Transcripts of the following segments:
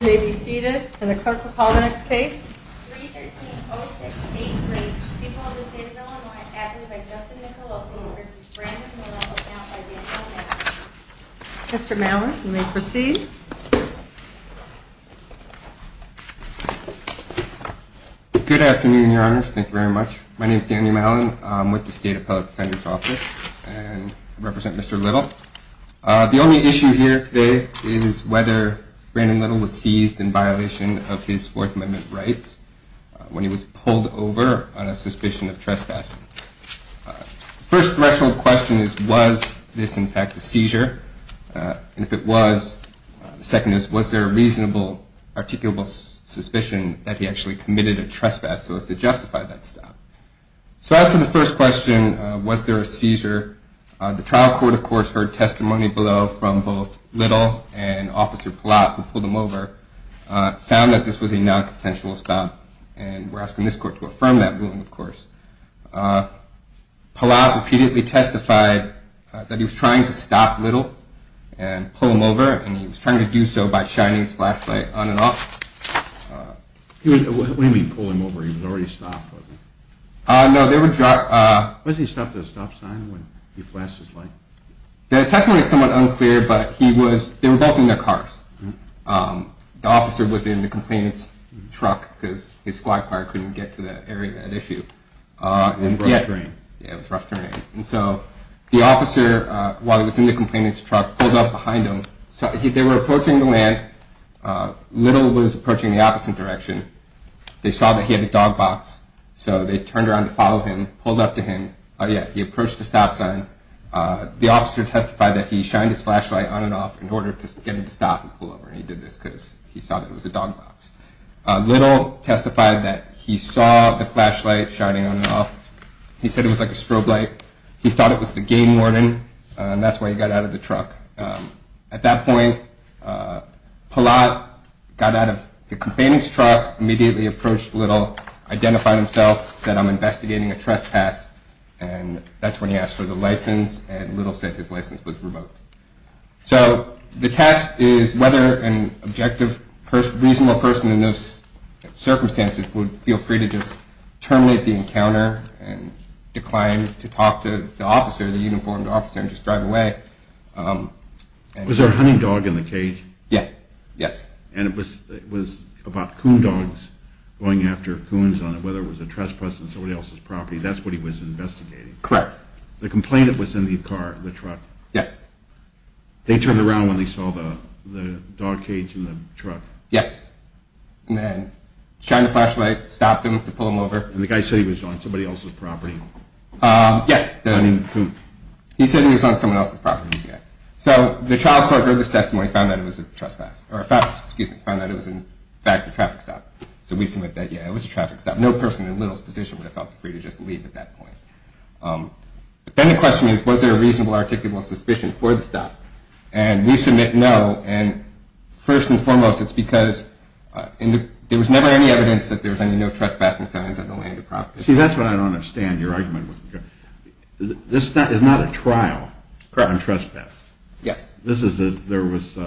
may be seated. And the clerk will call the next case. Mr. Mallon, you may proceed. Good afternoon, Your Honor. Thank you very much. My name is Daniel Mallon. I'm with the State Appellate Defendant's Office and represent Mr Little. The only issue here today is whether Brandon Little was seized in violation of his Fourth Amendment rights when he was pulled over on a suspicion of trespassing. The first threshold question is, was this, in fact, a seizure? And if it was, the second is, was there a reasonable, articulable suspicion that he actually committed a trespass so as to justify that stop? So as to the first question, was there a seizure? The trial court, of course, testimony below from both Little and Officer Pallott, who pulled him over, found that this was a non-consensual stop. And we're asking this court to affirm that ruling, of course. Pallott repeatedly testified that he was trying to stop Little and pull him over, and he was trying to do so by shining his flashlight on and off. What do you mean, pull him over? He was already stopped, wasn't he? No, there The testimony is somewhat unclear, but they were both in their cars. The officer was in the complainant's truck, because his squad car couldn't get to the area at issue. And the officer, while he was in the complainant's truck, pulled up behind him. They were approaching the land. Little was approaching the opposite direction. They saw that he had a dog box, so they turned around to follow him, pulled up to him. He approached the stop sign. The officer testified that he shined his flashlight on and off in order to get him to stop and pull over. He did this because he saw that it was a dog box. Little testified that he saw the flashlight shining on and off. He said it was like a strobe light. He thought it was the game warden, and that's why he got out of the truck. At that point, Pallott got out of the complainant's truck, immediately approached Little, identified himself, said, I'm investigating a trespass. And that's when he asked for the license, and Little said his license was revoked. So the test is whether an objective, reasonable person in those circumstances would feel free to just terminate the encounter and decline to talk to the officer, the uniformed officer, and just drive away. Was there a hunting dog in the cage? Yeah, yes. And it was about coon dogs going after coons on whether it was a trespass on somebody else's property. That's what he was investigating. Correct. The complainant was in the car, the truck. Yes. They turned around when they saw the dog cage in the truck. Yes. And then shined the flashlight, stopped him to pull him over. And the guy said he was on somebody else's property. Yes. He said he was on someone else's property. And he said, in fact, a traffic stop. So we submit that, yeah, it was a traffic stop. No person in Little's position would have felt free to just leave at that point. But then the question is, was there a reasonable, articulable suspicion for the stop? And we submit no. And first and foremost, it's because there was never any evidence that there was any trespassing signs on the land or property. See, that's what I don't understand. Your argument wasn't good. This is not a trial on trespass. Yes. This is if there was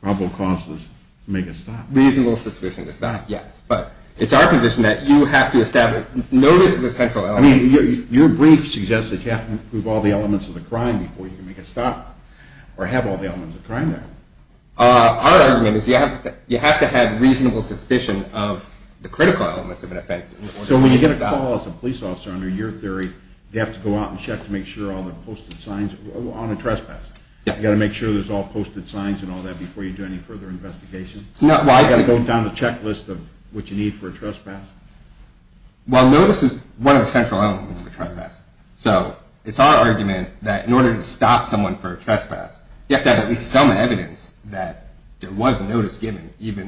probable causes to make a stop. Reasonable suspicion to stop, yes. But it's our position that you have to establish, no, this is a central element. I mean, your brief suggests that you have to prove all the elements of the crime before you can make a stop, or have all the elements of crime there. Our argument is you have to have reasonable suspicion of the critical elements of an offense. So when you get a call as a police officer under your theory, you have to go out and check to make sure all the posted signs on a trespass. You have to make sure there's all posted signs and all that before you do any further investigation. You have to go down the checklist of what you need for a trespass. Well, notice is one of the central elements of a trespass. So it's our argument that in order to stop someone for a trespass, you have to have at least some evidence that there was notice given, either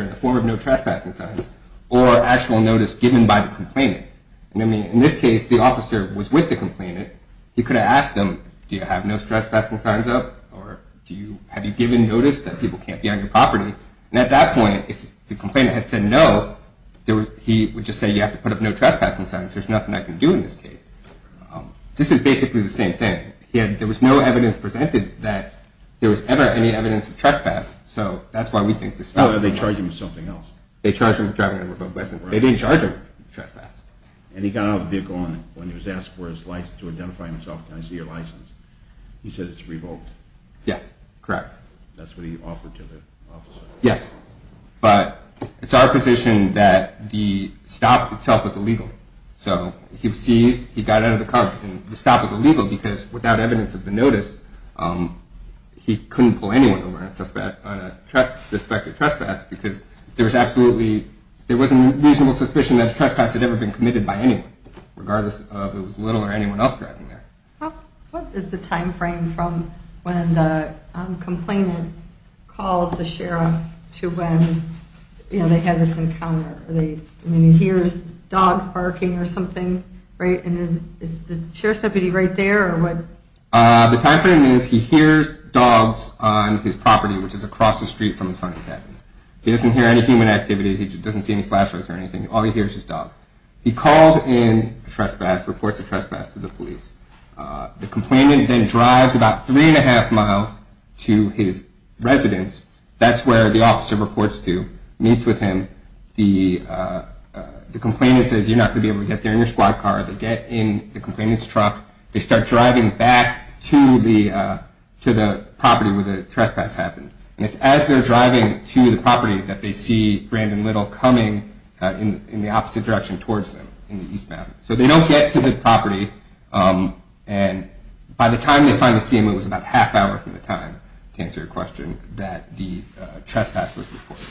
in the form of no trespassing signs, or actual notice given by the complainant. I mean, in this case, the could have asked him, do you have no trespassing signs up, or have you given notice that people can't be on your property? And at that point, if the complainant had said no, he would just say you have to put up no trespassing signs, there's nothing I can do in this case. This is basically the same thing. There was no evidence presented that there was ever any evidence of trespass, so that's why we think this is the case. Oh, they charged him with something else. They charged him with driving under a revoked license. They didn't have the vehicle on him when he was asked to identify himself, can I see your license? He said it's revoked. Yes, correct. That's what he offered to the officer. Yes, but it's our position that the stop itself is illegal. So he was seized, he got out of the car, and the stop was illegal because without evidence of the notice, he couldn't pull anyone over on a suspected trespass because there was absolutely, there was a reasonable suspicion that a trespass had ever been committed by anyone, regardless of if it was Little or anyone else driving there. What is the time frame from when the complainant calls the sheriff to when they had this encounter? When he hears dogs barking or something, right, and is the sheriff's deputy right there, or what? The time frame is he hears dogs on his property, which is across the street from his hunting cabin. He doesn't hear any human activity, he doesn't see any flashlights or anything, all he hears is dogs. He calls in the trespass, reports the trespass to the police. The complainant then drives about three and a half miles to his residence, that's where the officer reports to, meets with him. The complainant says you're not going to be able to get there in your squad car. They get in the complainant's truck, they start driving back to the property where the trespass happened. And it's as they're driving to the property that they see Brandon Little coming in the opposite direction towards them, in the eastbound. So they don't get to the property, and by the time they find the CMO it was about half an hour from the time, to answer your question, that the trespass was reported.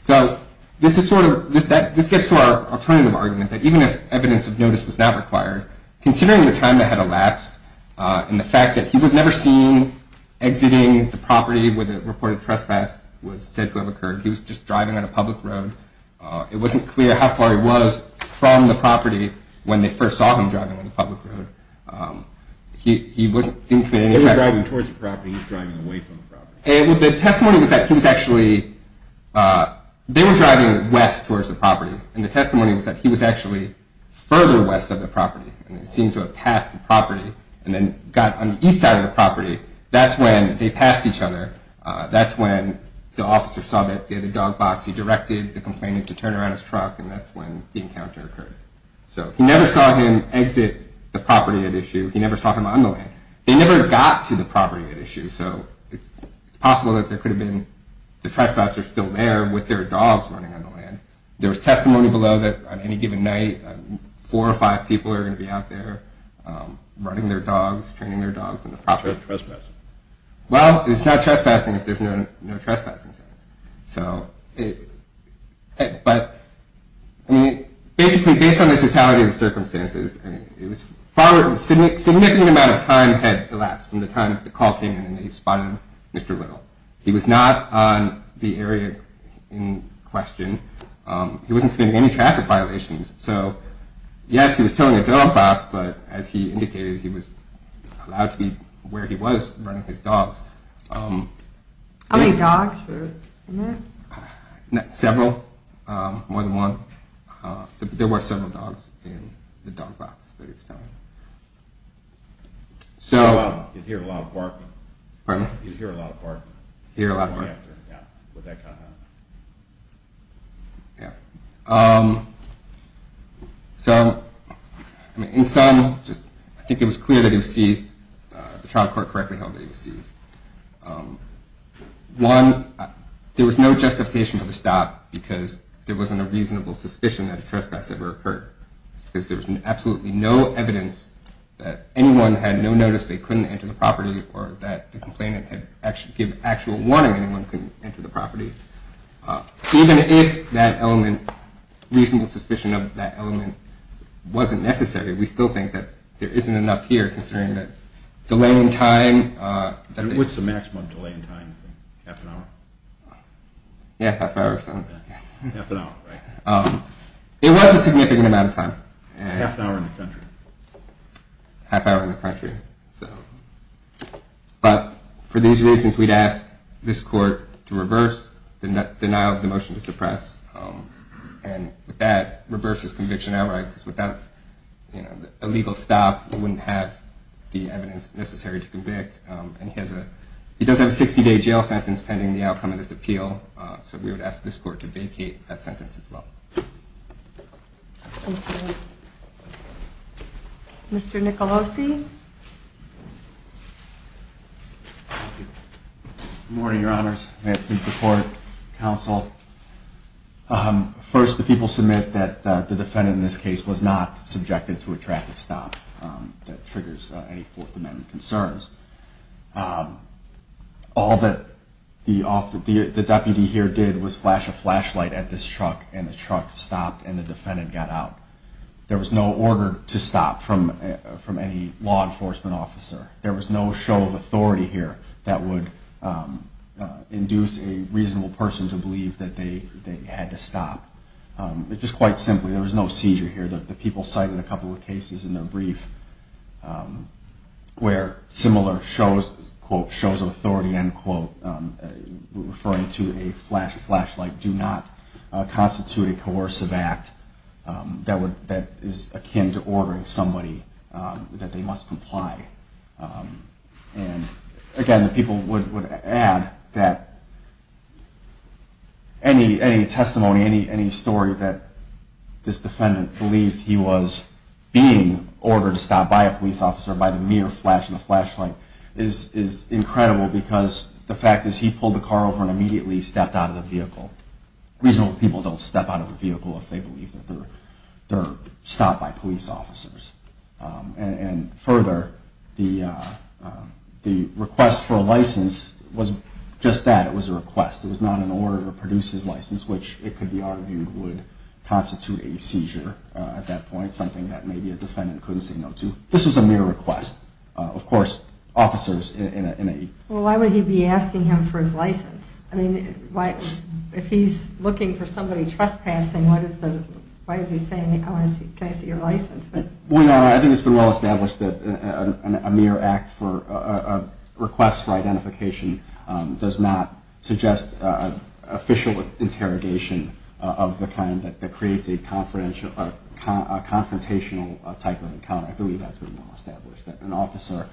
So this gets to our alternative argument, that even if evidence of notice was not required, considering the time that had elapsed, and the fact that he was never seen exiting the property where the reported trespass was said to have taken place, he was driving on a public road, it wasn't clear how far he was from the property when they first saw him driving on the public road. He wasn't... They were driving towards the property, he was driving away from the property. The testimony was that he was actually, they were driving west towards the property, and the testimony was that he was actually further west of the property, and it seemed to have passed the property, and then got on the east side of the property, that's when they turned around his truck, and that's when the encounter occurred. So he never saw him exit the property at issue, he never saw him on the land. They never got to the property at issue, so it's possible that there could have been, the trespassers still there with their dogs running on the land. There was testimony below that on any given night, four or five people are going to be out there running their dogs, training their dogs on the property. Well, it's not trespassing if there's no trespassing signs. So, but, I mean, basically based on the totality of the circumstances, it was far, a significant amount of time had elapsed from the time the call came in and they spotted Mr. Little. He was not on the area in question, he wasn't committing any traffic violations, so yes, he was towing a dog box, but as he was running his dogs. How many dogs were in there? Several, more than one. There were several dogs in the dog box that he was seized, the trial court correctly held that he was seized. One, there was no justification for the stop because there wasn't a reasonable suspicion that a trespass ever occurred, because there was absolutely no evidence that anyone had no notice they couldn't enter the property or that the complainant had given actual warning anyone couldn't enter the property. Even if that element, reasonable suspicion of that element wasn't necessary, we still think that there isn't enough here considering the delay in time. And what's the maximum delay in time? Half an hour? Yeah, half an hour sounds... Half an hour, right. It was a significant amount of time. Half an hour in the country. Half hour in the country. But for these reasons we'd ask this court to reverse the denial of the motion to suppress, and with that, reverse his conviction outright, because without a legal stop he wouldn't have the evidence necessary to convict, and he does have a 60-day jail sentence pending the outcome of this appeal, so we would ask this court to vacate that sentence as well. Thank you. Mr. Nicolosi? Good morning, Your Honors. May it please the court, counsel. First, the people submit that the defendant in this case was not subjected to a traffic stop that triggers any Fourth Amendment concerns. All that the deputy here did was flash a flashlight at this truck, and the truck stopped, and the defendant got out. There was no order to stop from any law enforcement officer. There was no show of authority here that would induce a reasonable person to believe that they had to stop. It's just quite simply, there was no seizure here. The people cited a couple of cases in their brief where similar shows, quote, shows of authority, end quote, referring to a flashlight do not constitute a coercive act that is akin to ordering somebody that they must comply. And again, the people would add that any testimony, any story that this defendant believed he was being ordered to stop by a police officer by the mere flash of the flashlight is incredible, because the fact is he pulled the car over and immediately stepped out of the vehicle. Reasonable people don't step out of a vehicle if they believe that they're stopped by police officers. And further, the request for a license was just that. It was a request. It was not an order to produce his license, which it could be argued would constitute a seizure at that point, something that maybe a defendant couldn't say no to. This was a mere request. Of course, Well, why would he be asking him for his license? I mean, if he's looking for somebody trespassing, why is he saying, can I see your license? I think it's been well established that a mere request for identification does not suggest official interrogation of the kind that creates a confrontational type of encounter. I believe that's been well established, that an officer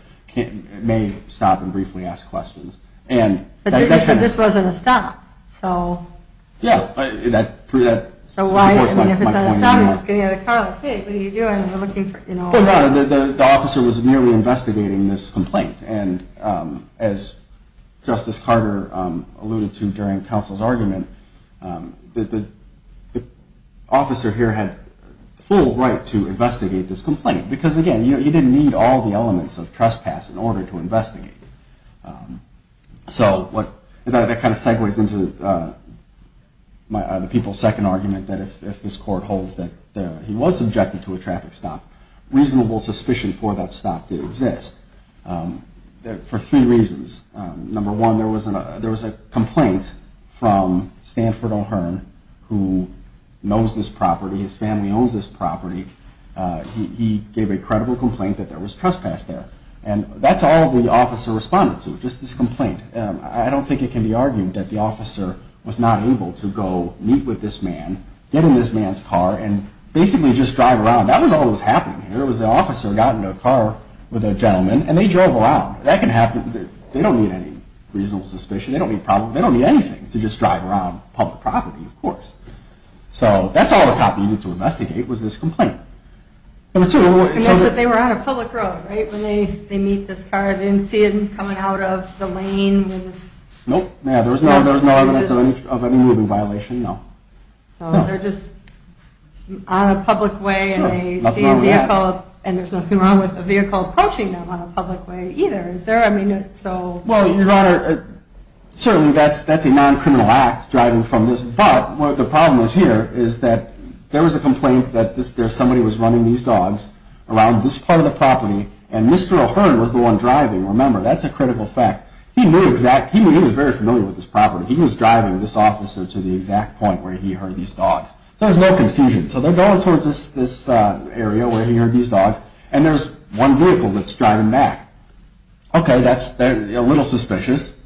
may stop and briefly ask questions. But this wasn't a stop. So why? I mean, if it's not a stop, he's getting out of the car like, hey, what are you doing? Well, no, the officer was merely investigating this complaint. And as Justice Carter alluded to during counsel's argument, the officer here had full right to investigate this complaint because, again, you didn't need all the elements of trespass in order to investigate. So that kind of reasonable suspicion for that stop to exist for three reasons. Number one, there was a complaint from Stanford O'Hearn, who knows this property, his family owns this property. He gave a credible complaint that there was trespass there. And that's all the officer responded to, just this complaint. And I don't think it can be argued that the officer was not able to go meet with this man, get in this man's car, and basically just drive around. That was all that was happening here. It was the officer who got into a car with a gentleman, and they drove around. That can happen. They don't need any reasonable suspicion. They don't need anything to just drive around public property, of course. So that's all the cop needed to investigate was this complaint. Number two... And that's that they were on a public road, right? When they meet this car, they didn't see it coming out of the lane when this... Nope. Yeah, there was no evidence of any moving violation, no. So they're just on a public way, and they see a vehicle, and there's nothing wrong with a vehicle approaching them on a public way either, is there? I mean, so... Well, Your Honor, certainly that's a non-criminal act, driving from this... But the problem here is that there was a complaint that somebody was running these dogs around this part of the property, and Mr. O'Hearn was the one driving. Remember, that's a critical fact. He was very familiar with this property. He was driving this officer to the exact point where he heard these dogs. So there's no confusion. So they're going towards this area where he heard these dogs, and there's one vehicle that's driving back. Okay, that's a little suspicious.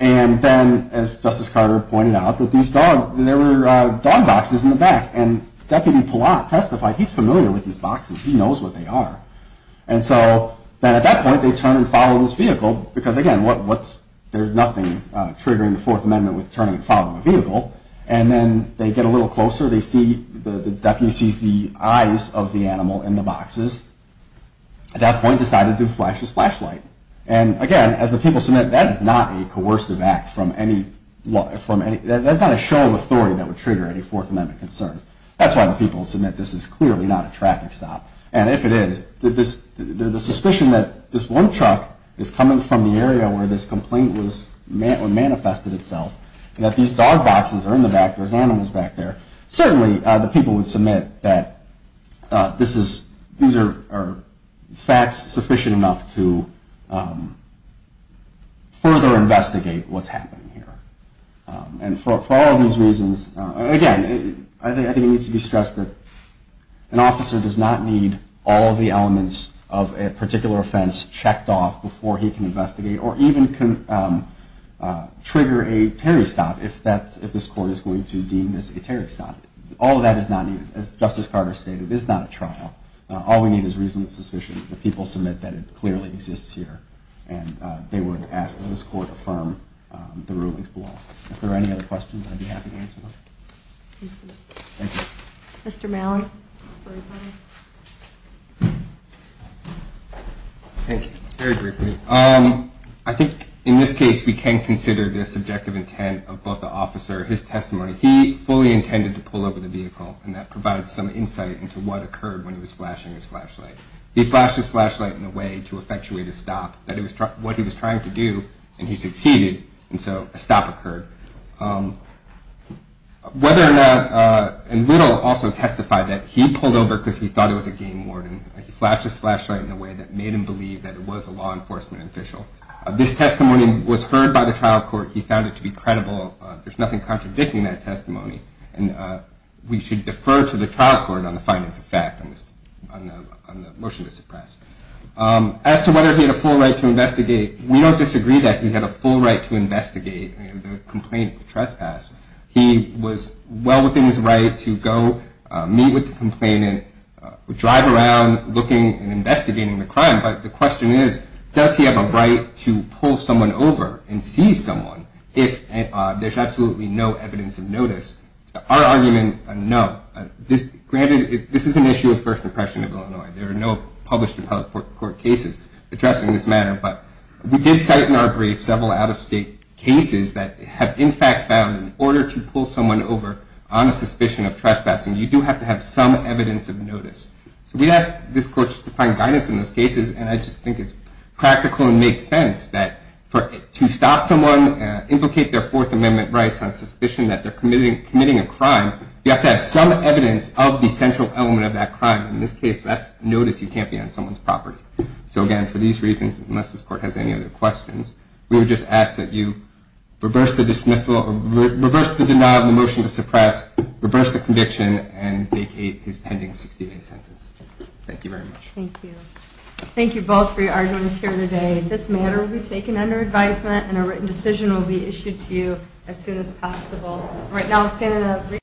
And then, as Justice Carter pointed out, there were dog boxes in the back, and Deputy Pallant testified he's familiar with these boxes. He knows what they are. And so then at that point, they turn and follow this vehicle, because again, there's nothing triggering the Fourth Amendment with turning and following a vehicle. And then they get a little closer. The deputy sees the eyes of the animal in the boxes. At that point, he decided to flash his flashlight. And again, as the people submit, that is not a coercive act from any... That's not a show of authority that would trigger any Fourth Amendment concerns. That's why the people submit this is clearly not a traffic stop. And if it is, the suspicion that this one truck is coming from the area where this complaint manifested itself, and that these dog boxes are in the back, there's animals back there, certainly the people would submit that these are facts sufficient enough to further investigate what's happening here. And for all of these reasons, again, I think it needs to be stressed that an officer does not need all of the elements of a particular offense checked off before he can investigate or even can trigger a Terry stop if this court is going to deem this a Terry stop. All of that is not needed. As Justice Carter stated, this is not a trial. All we need is reasonable suspicion. The people submit that it clearly exists here. And they would ask that this court affirm the rulings below. If there are any other questions, I'd be happy to answer them. Thank you. Mr. Malin. Thank you. Very briefly. I think in this case we can consider the subjective intent of both the officer, his testimony. He fully intended to pull over the vehicle, and that provided some insight into what occurred when he was flashing his flashlight. He flashed his flashlight in a way to effectuate a stop. That was what he was trying to do, and he succeeded, and so a stop occurred. Whether or not, and Little also testified that he pulled over because he thought it was a game warden. He flashed his flashlight in a way that made him believe that it was a law enforcement official. This testimony was heard by the trial court. He found it to be credible. There's nothing contradicting that testimony. And we should defer to the trial court on the findings of fact on the motion to suppress. As to whether he had a full right to investigate, we don't disagree that he had a full right to investigate the complaint of trespass. He was well within his right to go meet with the complainant, drive around looking and investigating the crime. But the question is, does he have a right to pull someone over and seize someone if there's absolutely no evidence of notice? Our argument, no. Granted, this is an issue of First Impression of Illinois. There are no published appellate court cases addressing this matter. But we did cite in our brief several out-of-state cases that have in fact found in order to pull someone over on a suspicion of trespassing, you do have to have some evidence of notice. So we asked this court to find guidance in those cases, and I just think it's practical and makes sense that to stop someone, implicate their Fourth Amendment rights on suspicion that they're committing a crime, you have to have some evidence of the central element of that crime. In this case, that's notice you can't be on someone's property. So again, for these reasons, unless this court has any other questions, we would just ask that you reverse the denial of the motion to suppress, reverse the conviction, and vacate his pending 16-day sentence. Thank you very much. Thank you. Thank you both for your arguments here today. This matter will be taken under advisement, and a written decision will be issued to you as soon as possible.